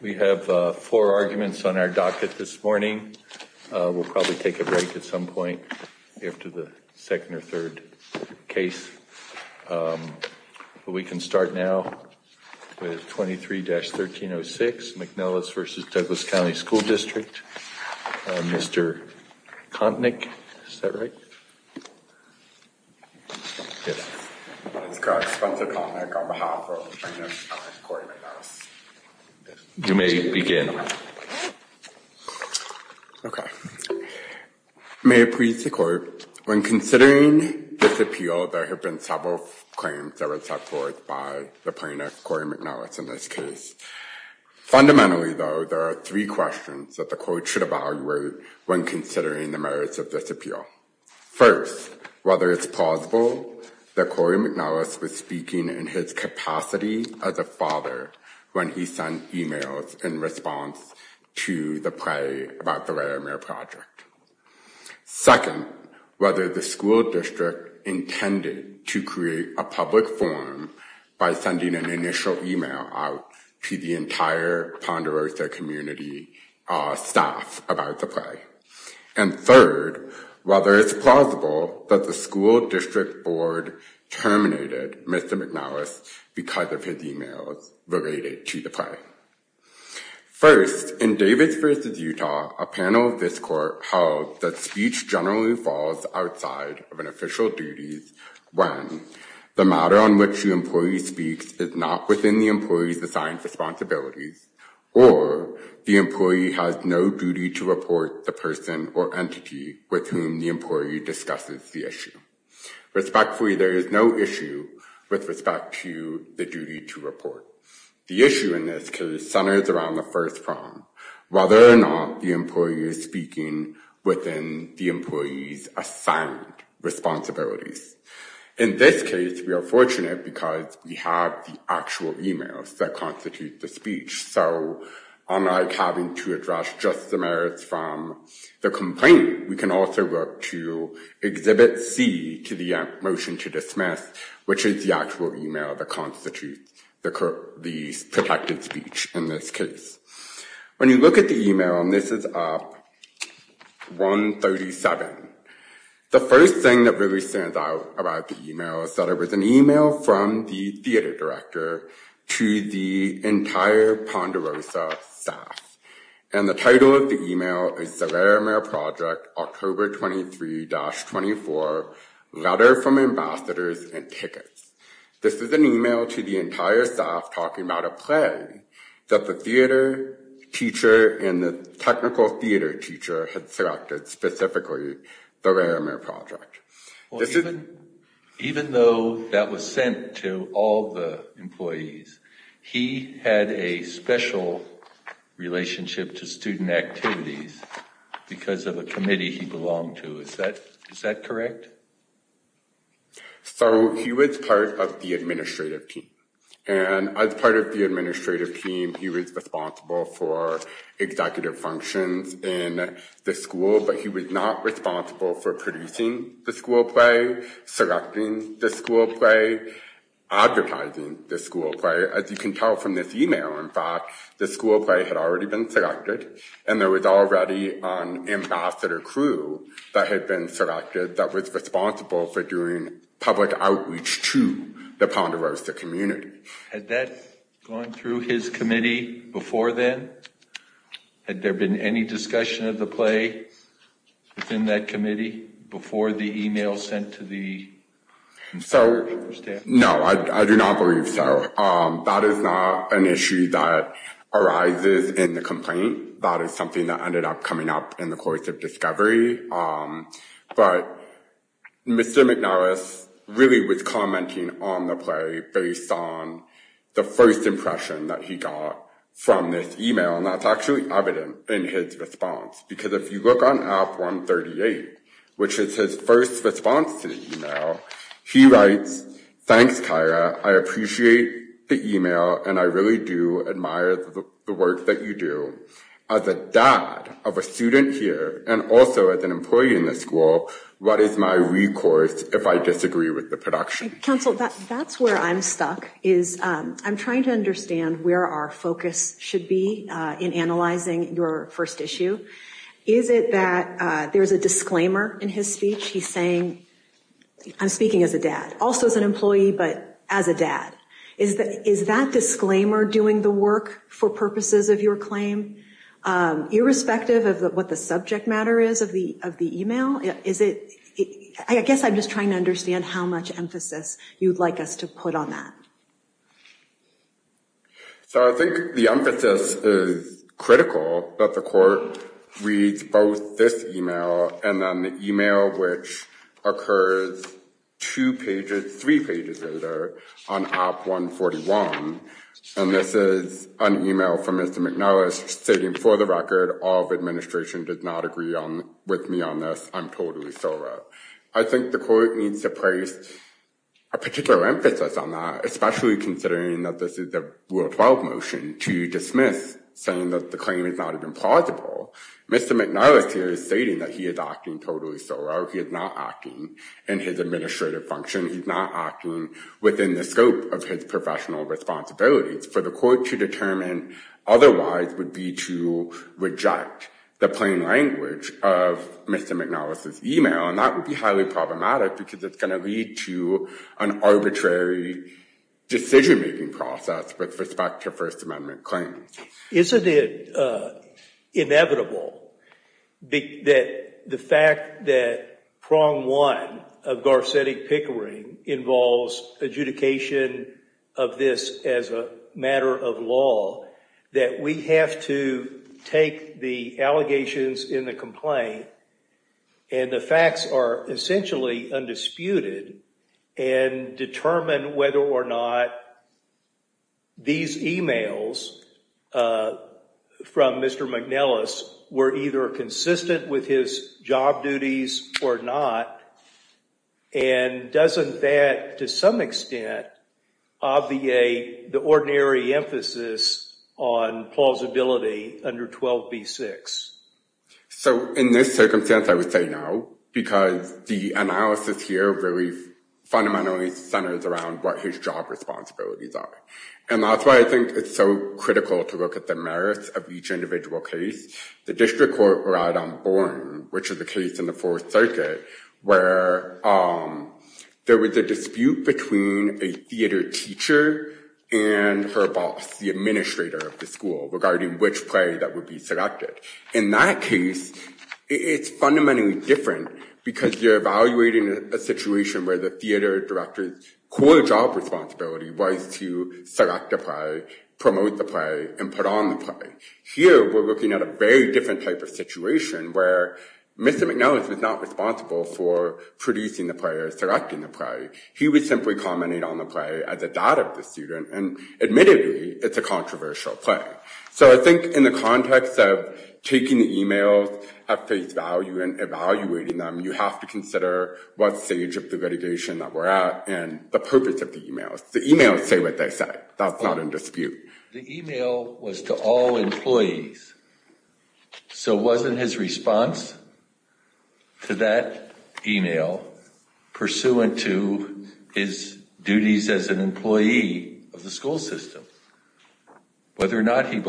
We have four arguments on our docket this morning. We'll probably take a break at some point after the second or third case, but we can start now with 23-1306 McNellis v. Douglas County School District. Mr. Kontnick, is that right? You may begin. Okay. May it please the Court, when considering this appeal, there have been several claims that were set forth by the plaintiff, Corey McNellis, in this case. Fundamentally, though, there are three questions that the Court should evaluate when considering the merits of this appeal. First, whether it's plausible that Corey McNellis was speaking in his capacity as a father when he sent emails in response to the play about the Laramiere Project. Second, whether the school district intended to create a public forum by sending an initial email out to the entire Ponderosa community staff about the play. And third, whether it's plausible that the school district board terminated Mr. McNellis because of his emails related to the play. First, in Davis v. Utah, a panel of this Court held that speech generally falls outside of an official duties when the matter on which the employee speaks is not within the employee's assigned responsibilities or the employee has no duty to report the person or entity with whom the employee discusses the issue. Respectfully, there is no issue with respect to the duty to report. The issue in this case centers around the first problem, whether or not the employee is speaking within the employee's assigned responsibilities. In this case, we are fortunate because we have the actual emails that constitute the speech. So unlike having to address just the merits from the complaint, we can also look to Exhibit C to the motion to dismiss, which is the actual email that constitutes the protected speech in this case. When you look at the email, and this is up 137, the first thing that really stands out about the email is that it was an email from the theater director to the entire Ponderosa staff. And the title of the email is the Laramere Project, October 23-24, Letter from Ambassadors and Tickets. This is an email to the entire staff talking about a play that the theater teacher and the technical theater teacher had selected specifically the Laramere Project. Even though that was sent to all the employees, he had a special relationship to student activities because of a committee he belonged to. Is that correct? So he was part of the administrative team. And as part of the administrative team, he was responsible for executive functions in the school, but he was not responsible for producing the school play, selecting the school play, advertising the school play. As you can tell from this email, in fact, the school play had already been selected, and there was already an ambassador crew that had been selected that was responsible for doing public outreach to the Ponderosa community. Had that gone through his committee before then? Had there been any discussion of the play within that committee before the email sent to the staff? No, I do not believe so. That is not an issue that arises in the complaint. That is something that ended up coming up in the course of discovery. But Mr. McNariss really was commenting on the play based on the first impression that he got from this email, and that's actually evident in his response. Because if you look on F138, which is his first response to the email, he writes, thanks Kyra, I appreciate the email, and I really do admire the work that you do. As a dad of a student here, and also as an employee in the school, what is my recourse if I disagree with the production? Counsel, that's where I'm stuck. I'm trying to understand where our focus should be in analyzing your first issue. Is it that there's a disclaimer in his speech? He's saying, I'm speaking as a dad. Also as an employee, but as a dad. Is that disclaimer doing the work for purposes of your claim? Irrespective of what the subject matter is of the email? I guess I'm just trying to understand how much of a disclaimer is that? So I think the emphasis is critical that the court reads both this email, and then the email which occurs two pages, three pages later, on AB 141. And this is an email from Mr. McNariss, stating for the record, all of administration did not agree with me on this. I'm totally sober. I think the court needs to place a especially considering that this is a Rule 12 motion to dismiss, saying that the claim is not even plausible. Mr. McNariss here is stating that he is acting totally sober. He is not acting in his administrative function. He's not acting within the scope of his professional responsibilities. For the court to determine otherwise would be to reject the plain language of Mr. McNariss' email. And that would be highly problematic, because it's going to lead to an arbitrary decision-making process with respect to a First Amendment claim. Isn't it inevitable that the fact that prong one of Garcetti Pickering involves adjudication of this as a matter of law, that we have to take the and determine whether or not these emails from Mr. McNariss were either consistent with his job duties or not? And doesn't that, to some extent, obviate the ordinary emphasis on plausibility under 12b-6? So in this circumstance, I fundamentally centers around what his job responsibilities are. And that's why I think it's so critical to look at the merits of each individual case. The District Court relied on Boren, which is the case in the Fourth Circuit, where there was a dispute between a theater teacher and her boss, the administrator of the school, regarding which play that would be selected. In that case, it's where the theater director's core job responsibility was to select a play, promote the play, and put on the play. Here, we're looking at a very different type of situation, where Mr. McNariss was not responsible for producing the play or selecting the play. He was simply commenting on the play as a dad of the student, and admittedly, it's a controversial play. So I think in the context of taking the emails at face value and evaluating them, you have to look at the investigation that we're at and the purpose of the emails. The emails say what they say. That's not in dispute. The email was to all employees, so wasn't his response to that email pursuant to his duties as an employee of the school system, whether or not he was?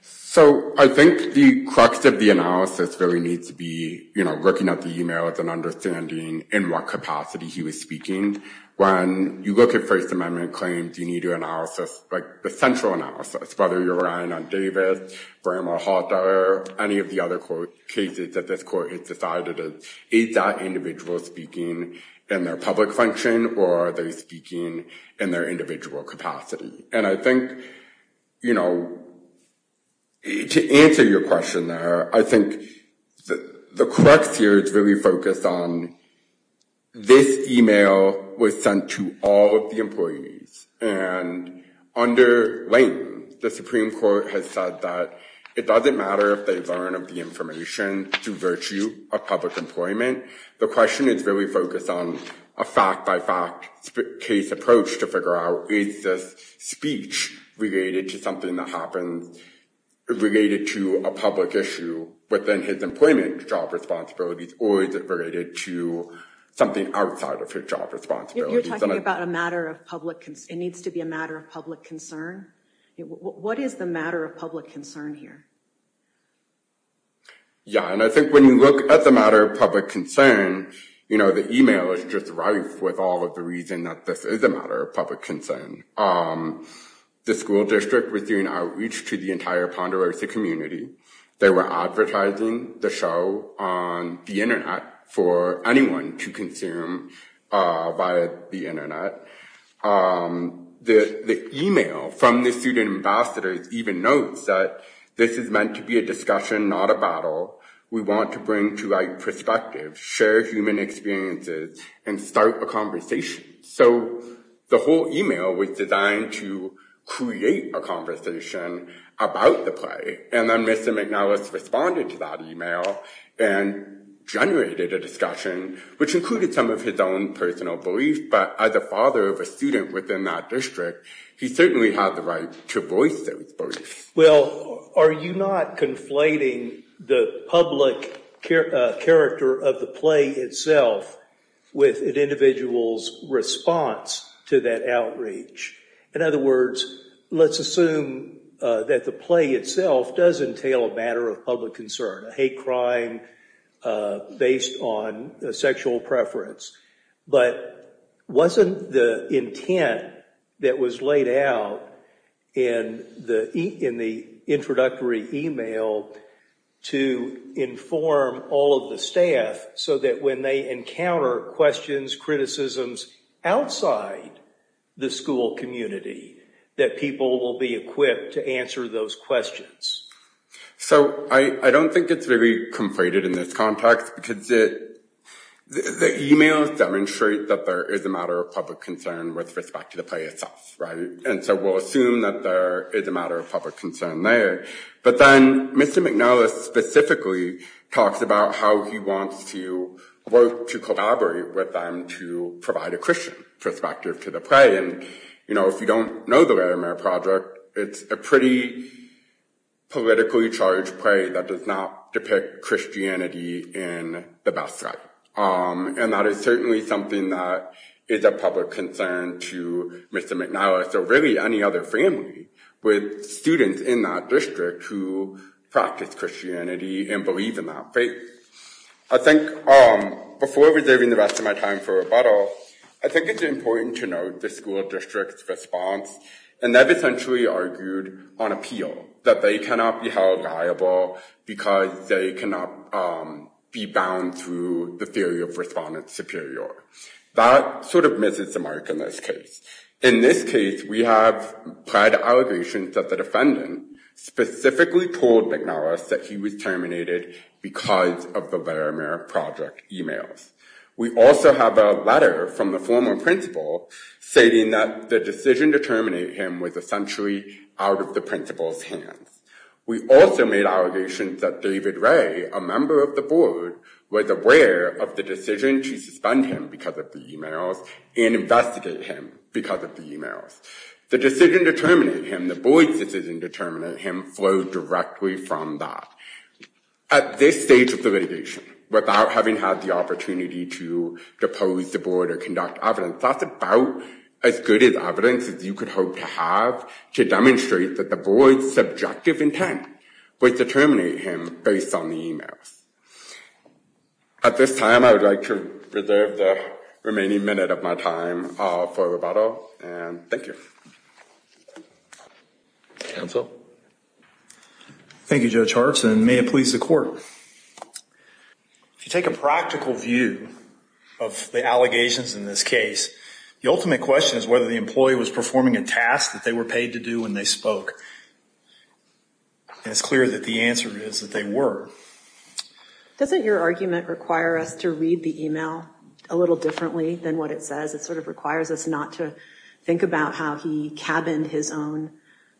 So I think the crux of the analysis really needs to be, you know, looking at the emails and understanding in what capacity he was speaking. When you look at First Amendment claims, you need to analysis, like, the central analysis, whether you're relying on Davis, Bramah, Hawthorne, or any of the other cases that this court has decided, is that individual speaking in their public function, or are they speaking in their individual capacity? And I think, you know, to answer your question there, I think the crux here is really focused on this email was sent to all of the employees, and under Layton, the Supreme Court has said that it doesn't matter if they learn of the information through virtue of public employment. The question is really focused on a fact-by-fact case approach to figure out, is this speech related to something that happens, related to a public issue within his employment job responsibilities, or is it related to something outside of his job responsibilities? You're talking about a matter of public concern. It needs to be a matter of public concern. What is the matter of public concern here? Yeah, and I think when you look at the matter of public concern, you know, the email is just rife with all of the reasons that this is a matter of public concern. The school district was doing outreach to the entire Ponderosa community. They were advertising the show on the internet for anyone to consume via the internet. The email from the student ambassadors even notes that this is meant to be a discussion, not a battle. We want to bring to light perspectives, share human experiences, and start a conversation. So the whole email was designed to create a conversation about the play, and then Mr. McNellis responded to that email and generated a discussion, which included some of his own personal beliefs, but as a father of a student within that district, he certainly had the right to voice those beliefs. Well, are you not conflating the public character of the play itself with an individual's response to that outreach? In other words, let's assume that the play itself does entail a matter of public concern, a hate crime based on a sexual preference, but wasn't the intent that was laid out in the introductory email to inform all of the staff so that when they encounter questions, criticisms outside the school community, that people will be equipped to answer those questions. So I don't think it's very conflated in this context because the emails demonstrate that there is a matter of public concern with respect to the play itself, right? And so we'll assume that there is a matter of public concern there, but then Mr. McNellis specifically talks about how he wants to work to collaborate with them to provide a Christian perspective to the play, and you know, if you don't know the Laramare Project, it's a pretty politically charged play that does not depict Christianity in the best light, and that is certainly something that is a public concern to Mr. McNellis or really any other family with students in that district who practice Christianity and believe in that faith. I think before reserving the rest of my time for rebuttal, I think it's important to note the school district's response and they've essentially argued on appeal that they cannot be held liable because they cannot be bound through the theory of respondents superior. That sort of is the mark in this case. In this case, we have pled allegations that the defendant specifically told McNellis that he was terminated because of the Laramare Project emails. We also have a letter from the former principal stating that the decision to terminate him was essentially out of the principal's hands. We also made allegations that David Ray, a member of the board, was aware of the decision to suspend him because of the emails and investigate him because of the emails. The decision to terminate him, the board's decision to terminate him, flowed directly from that. At this stage of the litigation, without having had the opportunity to depose the board or conduct evidence, that's about as good as evidence as you could hope to have to demonstrate that the board's subjective intent was to terminate him based on the emails. At this time, I would like to reserve the remaining minute of my time for rebuttal and thank you. Counsel? Thank you, Judge Harts and may it please the court. If you take a practical view of the allegations in this case, the ultimate question is whether the clear that the answer is that they were. Doesn't your argument require us to read the email a little differently than what it says? It sort of requires us not to think about how he cabined his own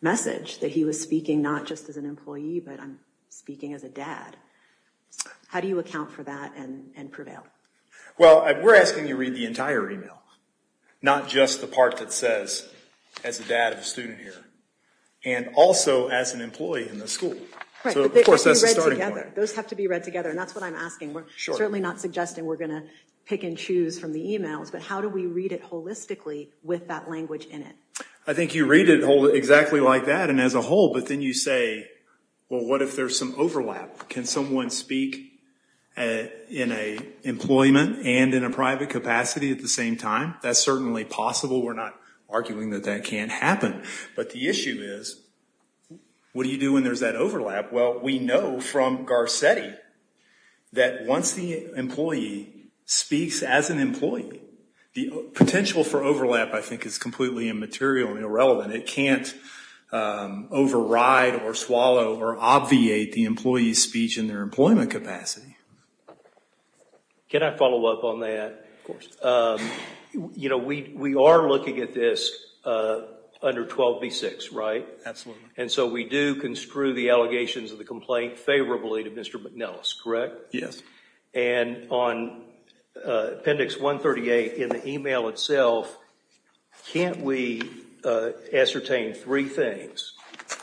message, that he was speaking not just as an employee, but I'm speaking as a dad. How do you account for that and prevail? Well, we're asking you read the entire email, not just the part that says as a dad of a student here, and also as an employee in the school. Those have to be read together and that's what I'm asking. We're certainly not suggesting we're gonna pick and choose from the emails, but how do we read it holistically with that language in it? I think you read it exactly like that and as a whole, but then you say, well what if there's some overlap? Can someone speak in a employment and in a private capacity at the same time? That's certainly possible. We're not arguing that that can't happen, but the issue is what do you do when there's that overlap? Well, we know from Garcetti that once the employee speaks as an employee, the potential for overlap I think is completely immaterial and irrelevant. It can't override or swallow or obviate the employee's speech in their employment capacity. Can I follow up on that? You know, we are looking at this under 12b-6, right? Absolutely. And so we do construe the allegations of the complaint favorably to Mr. McNellis, correct? Yes. And on appendix 138 in the email itself, can't we ascertain three things?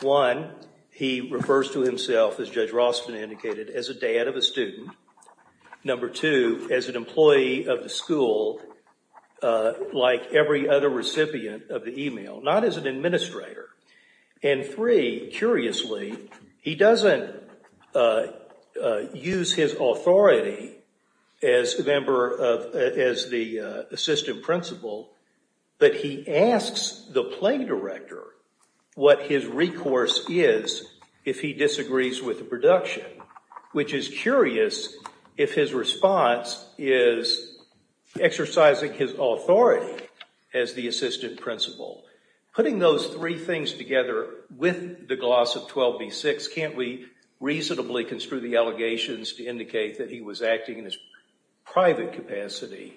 One, he refers to himself as Judge Rossman indicated, as a dad of a student. Number two, as an employee of the school like every other recipient of the email, not as an administrator. And three, curiously, he doesn't use his authority as the assistant principal, but he asks the play director what his if his response is exercising his authority as the assistant principal. Putting those three things together with the gloss of 12b-6, can't we reasonably construe the allegations to indicate that he was acting in his private capacity?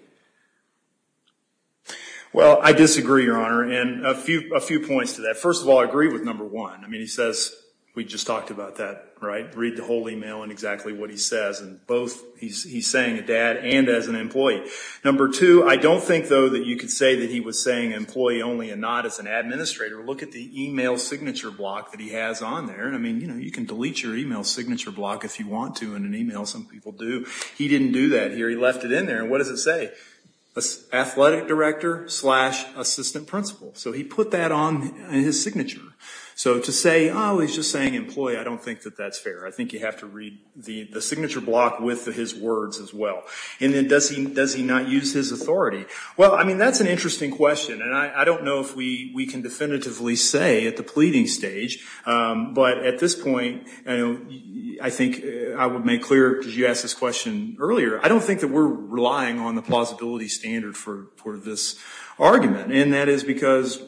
Well, I disagree, your honor, and a few points to that. First of all, I agree with number one. I mean, he says we just talked about that, right? Read the whole email and exactly what he says. And both, he's saying a dad and as an employee. Number two, I don't think, though, that you could say that he was saying employee only and not as an administrator. Look at the email signature block that he has on there. I mean, you know, you can delete your email signature block if you want to in an email. Some people do. He didn't do that here. He left it in there. And what does it say? Athletic director slash assistant principal. So he put that on his signature. So to say, oh, he's just saying employee, I don't think that that's fair. I think you have to read the signature block with his words as well. And then, does he not use his authority? Well, I mean, that's an interesting question, and I don't know if we can definitively say at the pleading stage, but at this point, I think I would make clear, because you asked this question earlier, I don't think that we're relying on the plausibility standard for this argument. And that is because,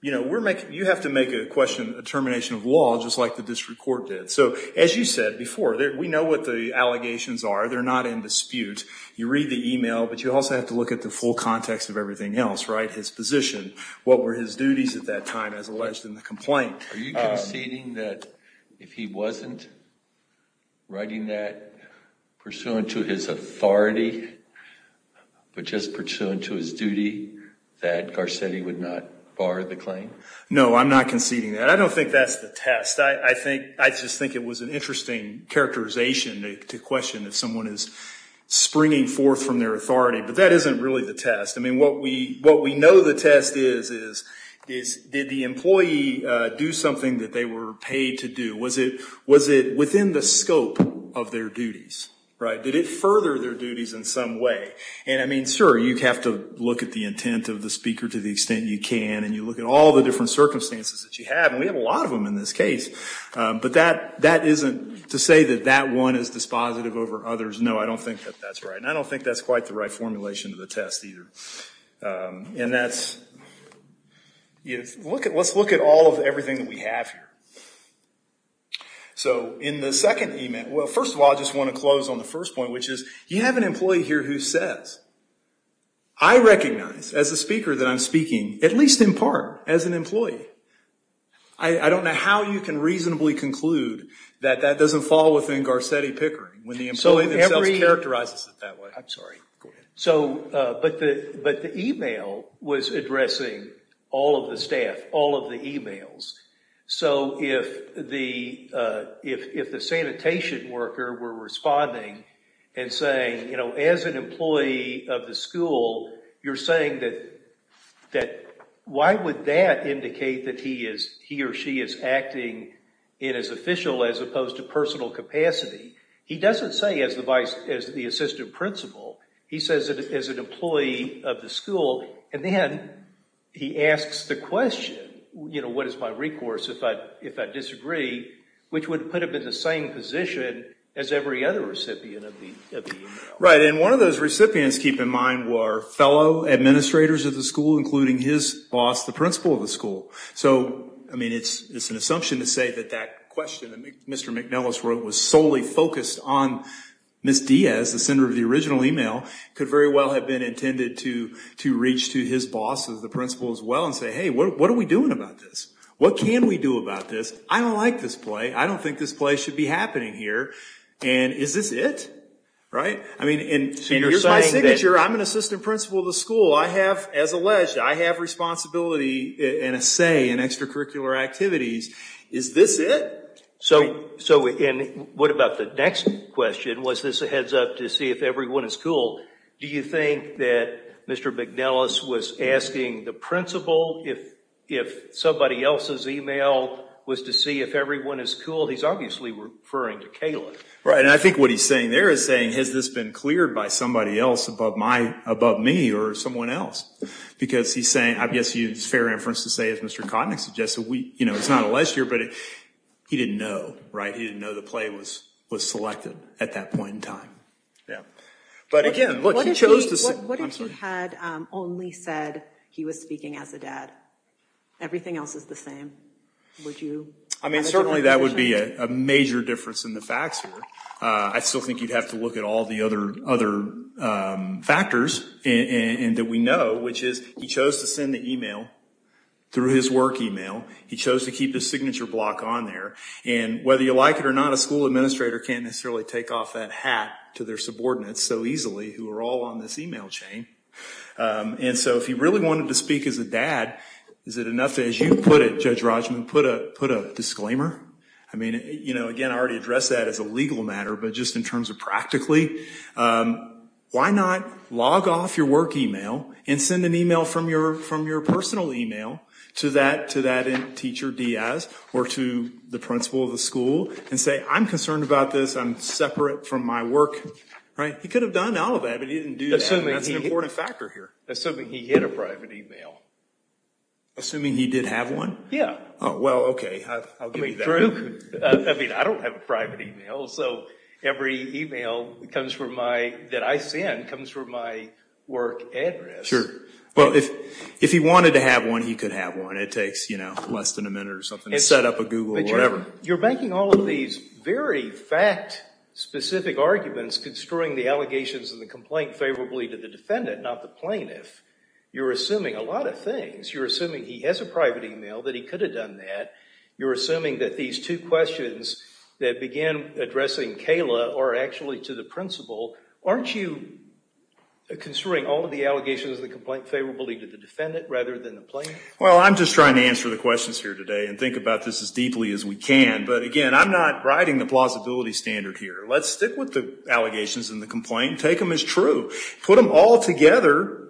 you know, you have to make a question, a termination of district court did. So as you said before, we know what the allegations are. They're not in dispute. You read the email, but you also have to look at the full context of everything else, right? His position, what were his duties at that time as alleged in the complaint? Are you conceding that if he wasn't writing that pursuant to his authority, but just pursuant to his duty, that Garcetti would not bar the claim? No, I'm not conceding that. I don't think that's the test. I just think it was an interesting characterization to question if someone is springing forth from their authority, but that isn't really the test. I mean, what we know the test is, is did the employee do something that they were paid to do? Was it within the scope of their duties, right? Did it further their duties in some way? And I mean, sure, you have to look at the intent of the speaker to the extent you can, and you look at all the different cases, but that isn't to say that that one is dispositive over others. No, I don't think that that's right, and I don't think that's quite the right formulation of the test either. Let's look at all of everything that we have here. So in the second email, well, first of all, I just want to close on the first point, which is you have an employee here who says, I recognize as a speaker that I'm speaking, at least in part, as an employee. I don't know how you can reasonably conclude that that doesn't fall within Garcetti Pickering when the employee characterizes it that way. I'm sorry. So, but the email was addressing all of the staff, all of the emails. So if the sanitation worker were responding and saying, you know, as an employee of the school, you're saying that why would that indicate that he or she is acting in his official as opposed to personal capacity? He doesn't say as the assistant principal. He says that as an employee of the school, and then he asks the question, you know, what is my recourse if I disagree, which would put him in the same position as every other recipient of the email. Right, and one of those recipients, keep in mind, were fellow administrators of the school, including his boss, the principal of the school. So, I mean, it's an assumption to say that that question that Mr. McNellis wrote was solely focused on Ms. Diaz, the sender of the original email, could very well have been intended to reach to his boss, the principal as well, and say, hey, what are we doing about this? What can we do about this? I don't like this play. I don't think this play should be happening here, and is this it? Right, I mean, and here's my signature. I'm an instructor. I have responsibility and a say in extracurricular activities. Is this it? So, and what about the next question? Was this a heads-up to see if everyone is cool? Do you think that Mr. McNellis was asking the principal if somebody else's email was to see if everyone is cool? He's obviously referring to Kayla. Right, and I think what he's saying there is saying, has this been cleared by somebody else above my, above me, or someone else? Because he's saying, I guess he's fair inference to say, as Mr. Kottnick suggests, that we, you know, it's not a list here, but he didn't know, right? He didn't know the play was was selected at that point in time. Yeah, but again, look, he chose to say. What if he had only said he was speaking as a dad? Everything else is the same. Would you? I mean, certainly that would be a major difference in the facts here. I still think you'd have to look at all the other other factors, and that we know, which is, he chose to send the email through his work email. He chose to keep his signature block on there, and whether you like it or not, a school administrator can't necessarily take off that hat to their subordinates so easily, who are all on this email chain. And so, if he really wanted to speak as a dad, is it enough as you put it, Judge Rogman, put a put a disclaimer? I mean, you know, again, I already addressed that as a legal matter, but just in terms of practically, why not log off your work email and send an email from your, from your personal email to that, to that teacher Diaz, or to the principal of the school, and say, I'm concerned about this, I'm separate from my work, right? He could have done all of that, but he didn't do that, and that's an important factor here. Assuming he hid a private email. Assuming he did have one? Yeah. Oh, well, okay. I mean, I don't have a private email, so every email comes from my, that I send, comes from my work address. Sure. Well, if, if he wanted to have one, he could have one. It takes, you know, less than a minute or something to set up a Google, whatever. You're making all of these very fact-specific arguments, constroying the allegations and the complaint favorably to the defendant, not the plaintiff. You're assuming a lot of things. You're assuming he has a private email, that he could have done that. You're assuming that these two questions that began addressing Kayla, or actually to the principal, aren't you construing all of the allegations of the complaint favorably to the defendant, rather than the plaintiff? Well, I'm just trying to answer the questions here today, and think about this as deeply as we can, but again, I'm not riding the plausibility standard here. Let's stick with the allegations and the complaint, take them as true, put them all together,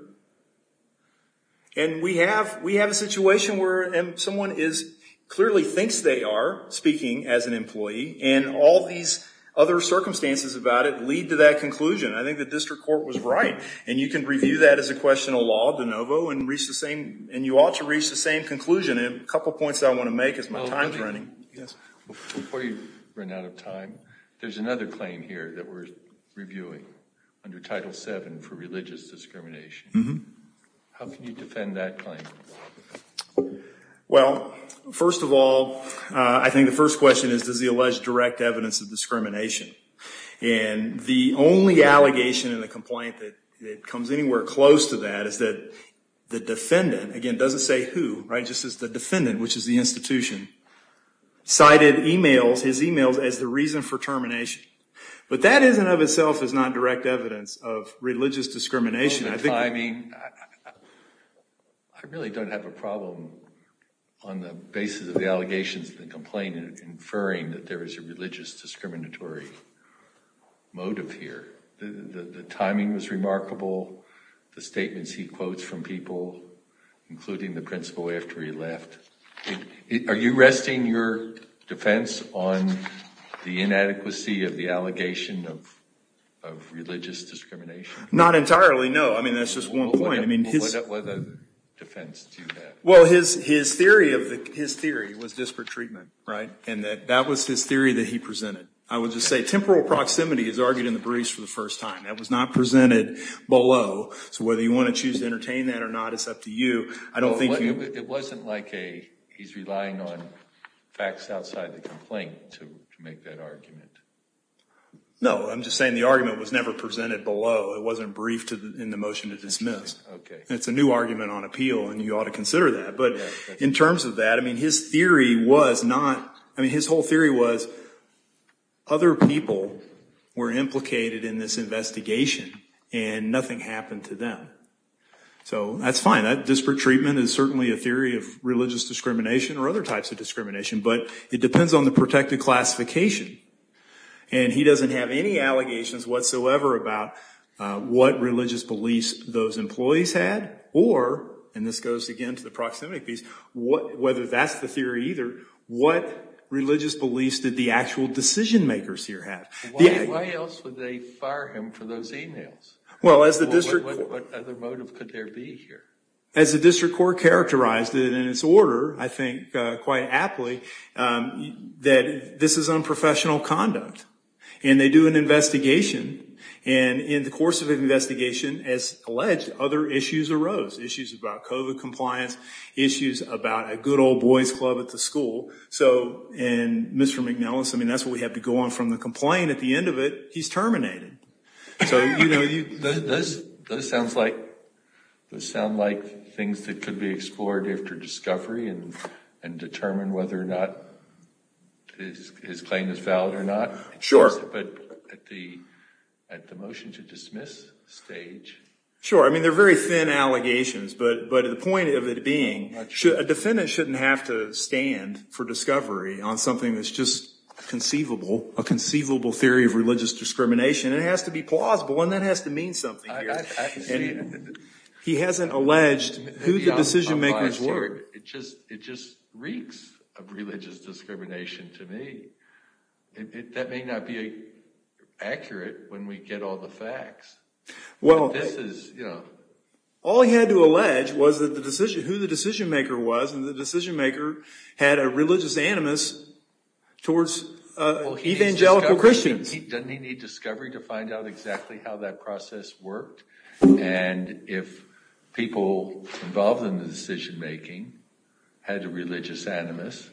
and we have, we have a situation where someone is, clearly thinks they are speaking as an employee, and all these other circumstances about it lead to that conclusion. I think the district court was right, and you can review that as a question of law, de novo, and reach the same, and you ought to reach the same conclusion. A couple points I want to make as my time's running. Before you run out of time, there's another claim here that we're discrimination. How can you defend that claim? Well, first of all, I think the first question is, does he allege direct evidence of discrimination? And the only allegation in the complaint that it comes anywhere close to that, is that the defendant, again doesn't say who, right, just says the defendant, which is the institution, cited emails, his emails, as the reason for termination. But that is in and of itself is not direct evidence of religious discrimination. I mean, I really don't have a problem on the basis of the allegations in the complaint inferring that there is a religious discriminatory motive here. The timing was remarkable, the statements he quotes from people, including the principal after he left. Are you resting your defense on the inadequacy of the religious discrimination? Not entirely, no. I mean, that's just one point. I mean, what other defense do you have? Well, his theory was disparate treatment, right, and that was his theory that he presented. I would just say temporal proximity is argued in the briefs for the first time. That was not presented below, so whether you want to choose to entertain that or not, it's up to you. I don't think you... It wasn't like he's relying on facts outside the argument was never presented below. It wasn't briefed in the motion to dismiss. Okay. It's a new argument on appeal and you ought to consider that. But in terms of that, I mean, his theory was not... I mean, his whole theory was other people were implicated in this investigation and nothing happened to them. So that's fine. That disparate treatment is certainly a theory of religious discrimination or other types of discrimination, but it depends on the protected classification and he doesn't have any allegations whatsoever about what religious beliefs those employees had or, and this goes again to the proximity piece, whether that's the theory either, what religious beliefs did the actual decision-makers here have? Why else would they fire him for those emails? Well, as the district... What other motive could there be here? As the district said, this is unprofessional conduct and they do an investigation and in the course of an investigation, as alleged, other issues arose. Issues about COVID compliance, issues about a good old boys club at the school. So, and Mr. McNellis, I mean, that's what we have to go on from the complaint. At the end of it, he's terminated. So, you know, you... Those sounds like, those sound like things that could be his claim is valid or not. Sure. But at the motion to dismiss stage... Sure. I mean, they're very thin allegations, but the point of it being, a defendant shouldn't have to stand for discovery on something that's just conceivable, a conceivable theory of religious discrimination. It has to be plausible and that has to mean something. He hasn't alleged who the decision-makers were. It just, it just reeks of religious discrimination to me. That may not be accurate when we get all the facts. Well, this is, you know... All he had to allege was that the decision, who the decision-maker was and the decision-maker had a religious animus towards evangelical Christians. Doesn't he need discovery to find out exactly how that process worked? And if people involved in the decision-making had a religious animus,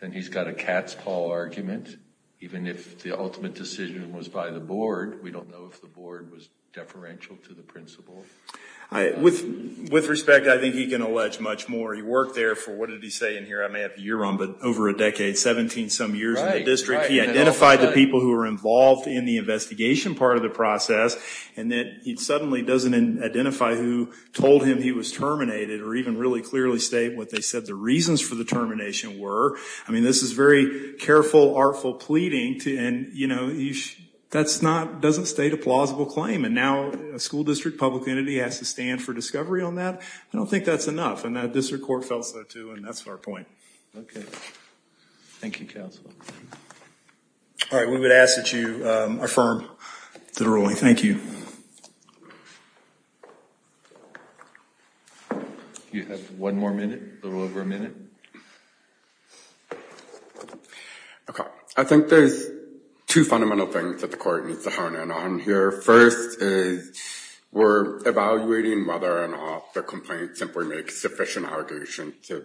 then he's got a cat's-paw argument. Even if the ultimate decision was by the board, we don't know if the board was deferential to the principal. With respect, I think he can allege much more. He worked there for, what did he say in here, I may have the year wrong, but over a decade, 17 some years in the district. He identified the people who were involved in the investigation part of the process and then he suddenly doesn't identify who told him he was terminated or even really clearly state what they said the reasons for the termination were. I mean, this is very careful, artful pleading to and, you know, that's not, doesn't state a plausible claim and now a school district public entity has to stand for discovery on that. I don't think that's enough and that district court felt so too and that's our point. Okay, thank you All right, we would ask that you affirm the ruling. Thank you. You have one more minute, a little over a minute. Okay, I think there's two fundamental things that the court needs to hone in on here. First, we're evaluating whether or not the complaint simply makes sufficient allegations to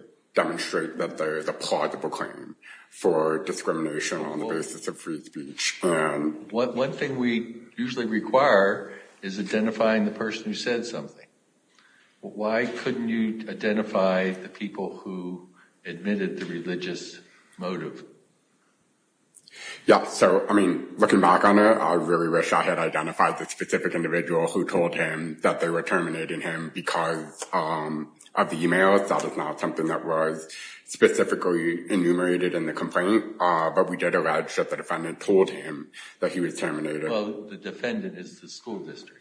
discrimination on the basis of free speech. One thing we usually require is identifying the person who said something. Why couldn't you identify the people who admitted the religious motive? Yeah, so, I mean, looking back on it, I really wish I had identified the specific individual who told him that they were terminating him because of the emails. That is not something that was specifically enumerated in the complaint, but we did allege that the defendant told him that he was terminated. Well, the defendant is the school district.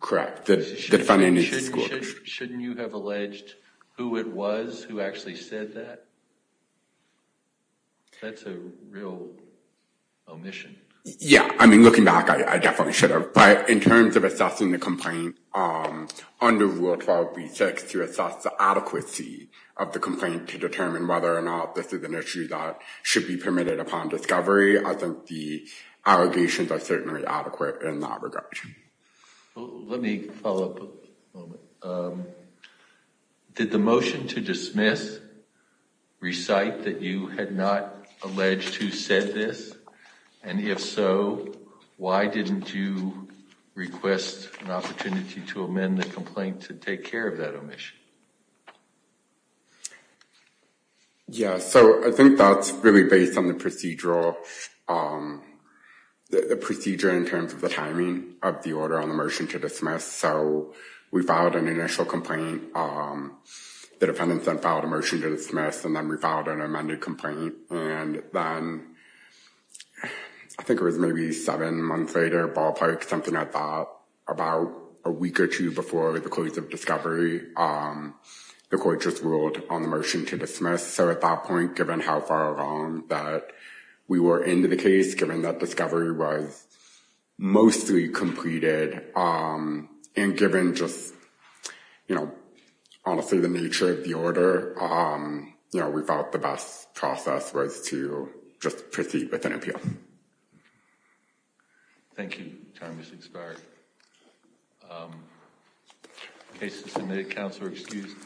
Correct, the defendant is the school district. Shouldn't you have alleged who it was who actually said that? That's a real omission. Yeah, I mean, looking back, I definitely should have, but in terms of assessing the complaint under Rule 12b6 to assess the adequacy of the complaint to determine whether or not this is an issue that should be permitted upon discovery, I think the allegations are certainly adequate in that regard. Let me follow up. Did the motion to dismiss recite that you had not alleged who said this, and if so, why didn't you request an admission? Yeah, so I think that's really based on the procedural, the procedure in terms of the timing of the order on the motion to dismiss. So we filed an initial complaint. The defendant then filed a motion to dismiss, and then we filed an amended complaint, and then I think it was maybe seven months later, ballpark, something I thought about a week or two before the close of the court just ruled on the motion to dismiss. So at that point, given how far along that we were into the case, given that discovery was mostly completed, and given just, you know, honestly the nature of the order, you know, we thought the best process was to just proceed with an appeal. Thank you. Time is expired. Case is submitted. Counselor excused.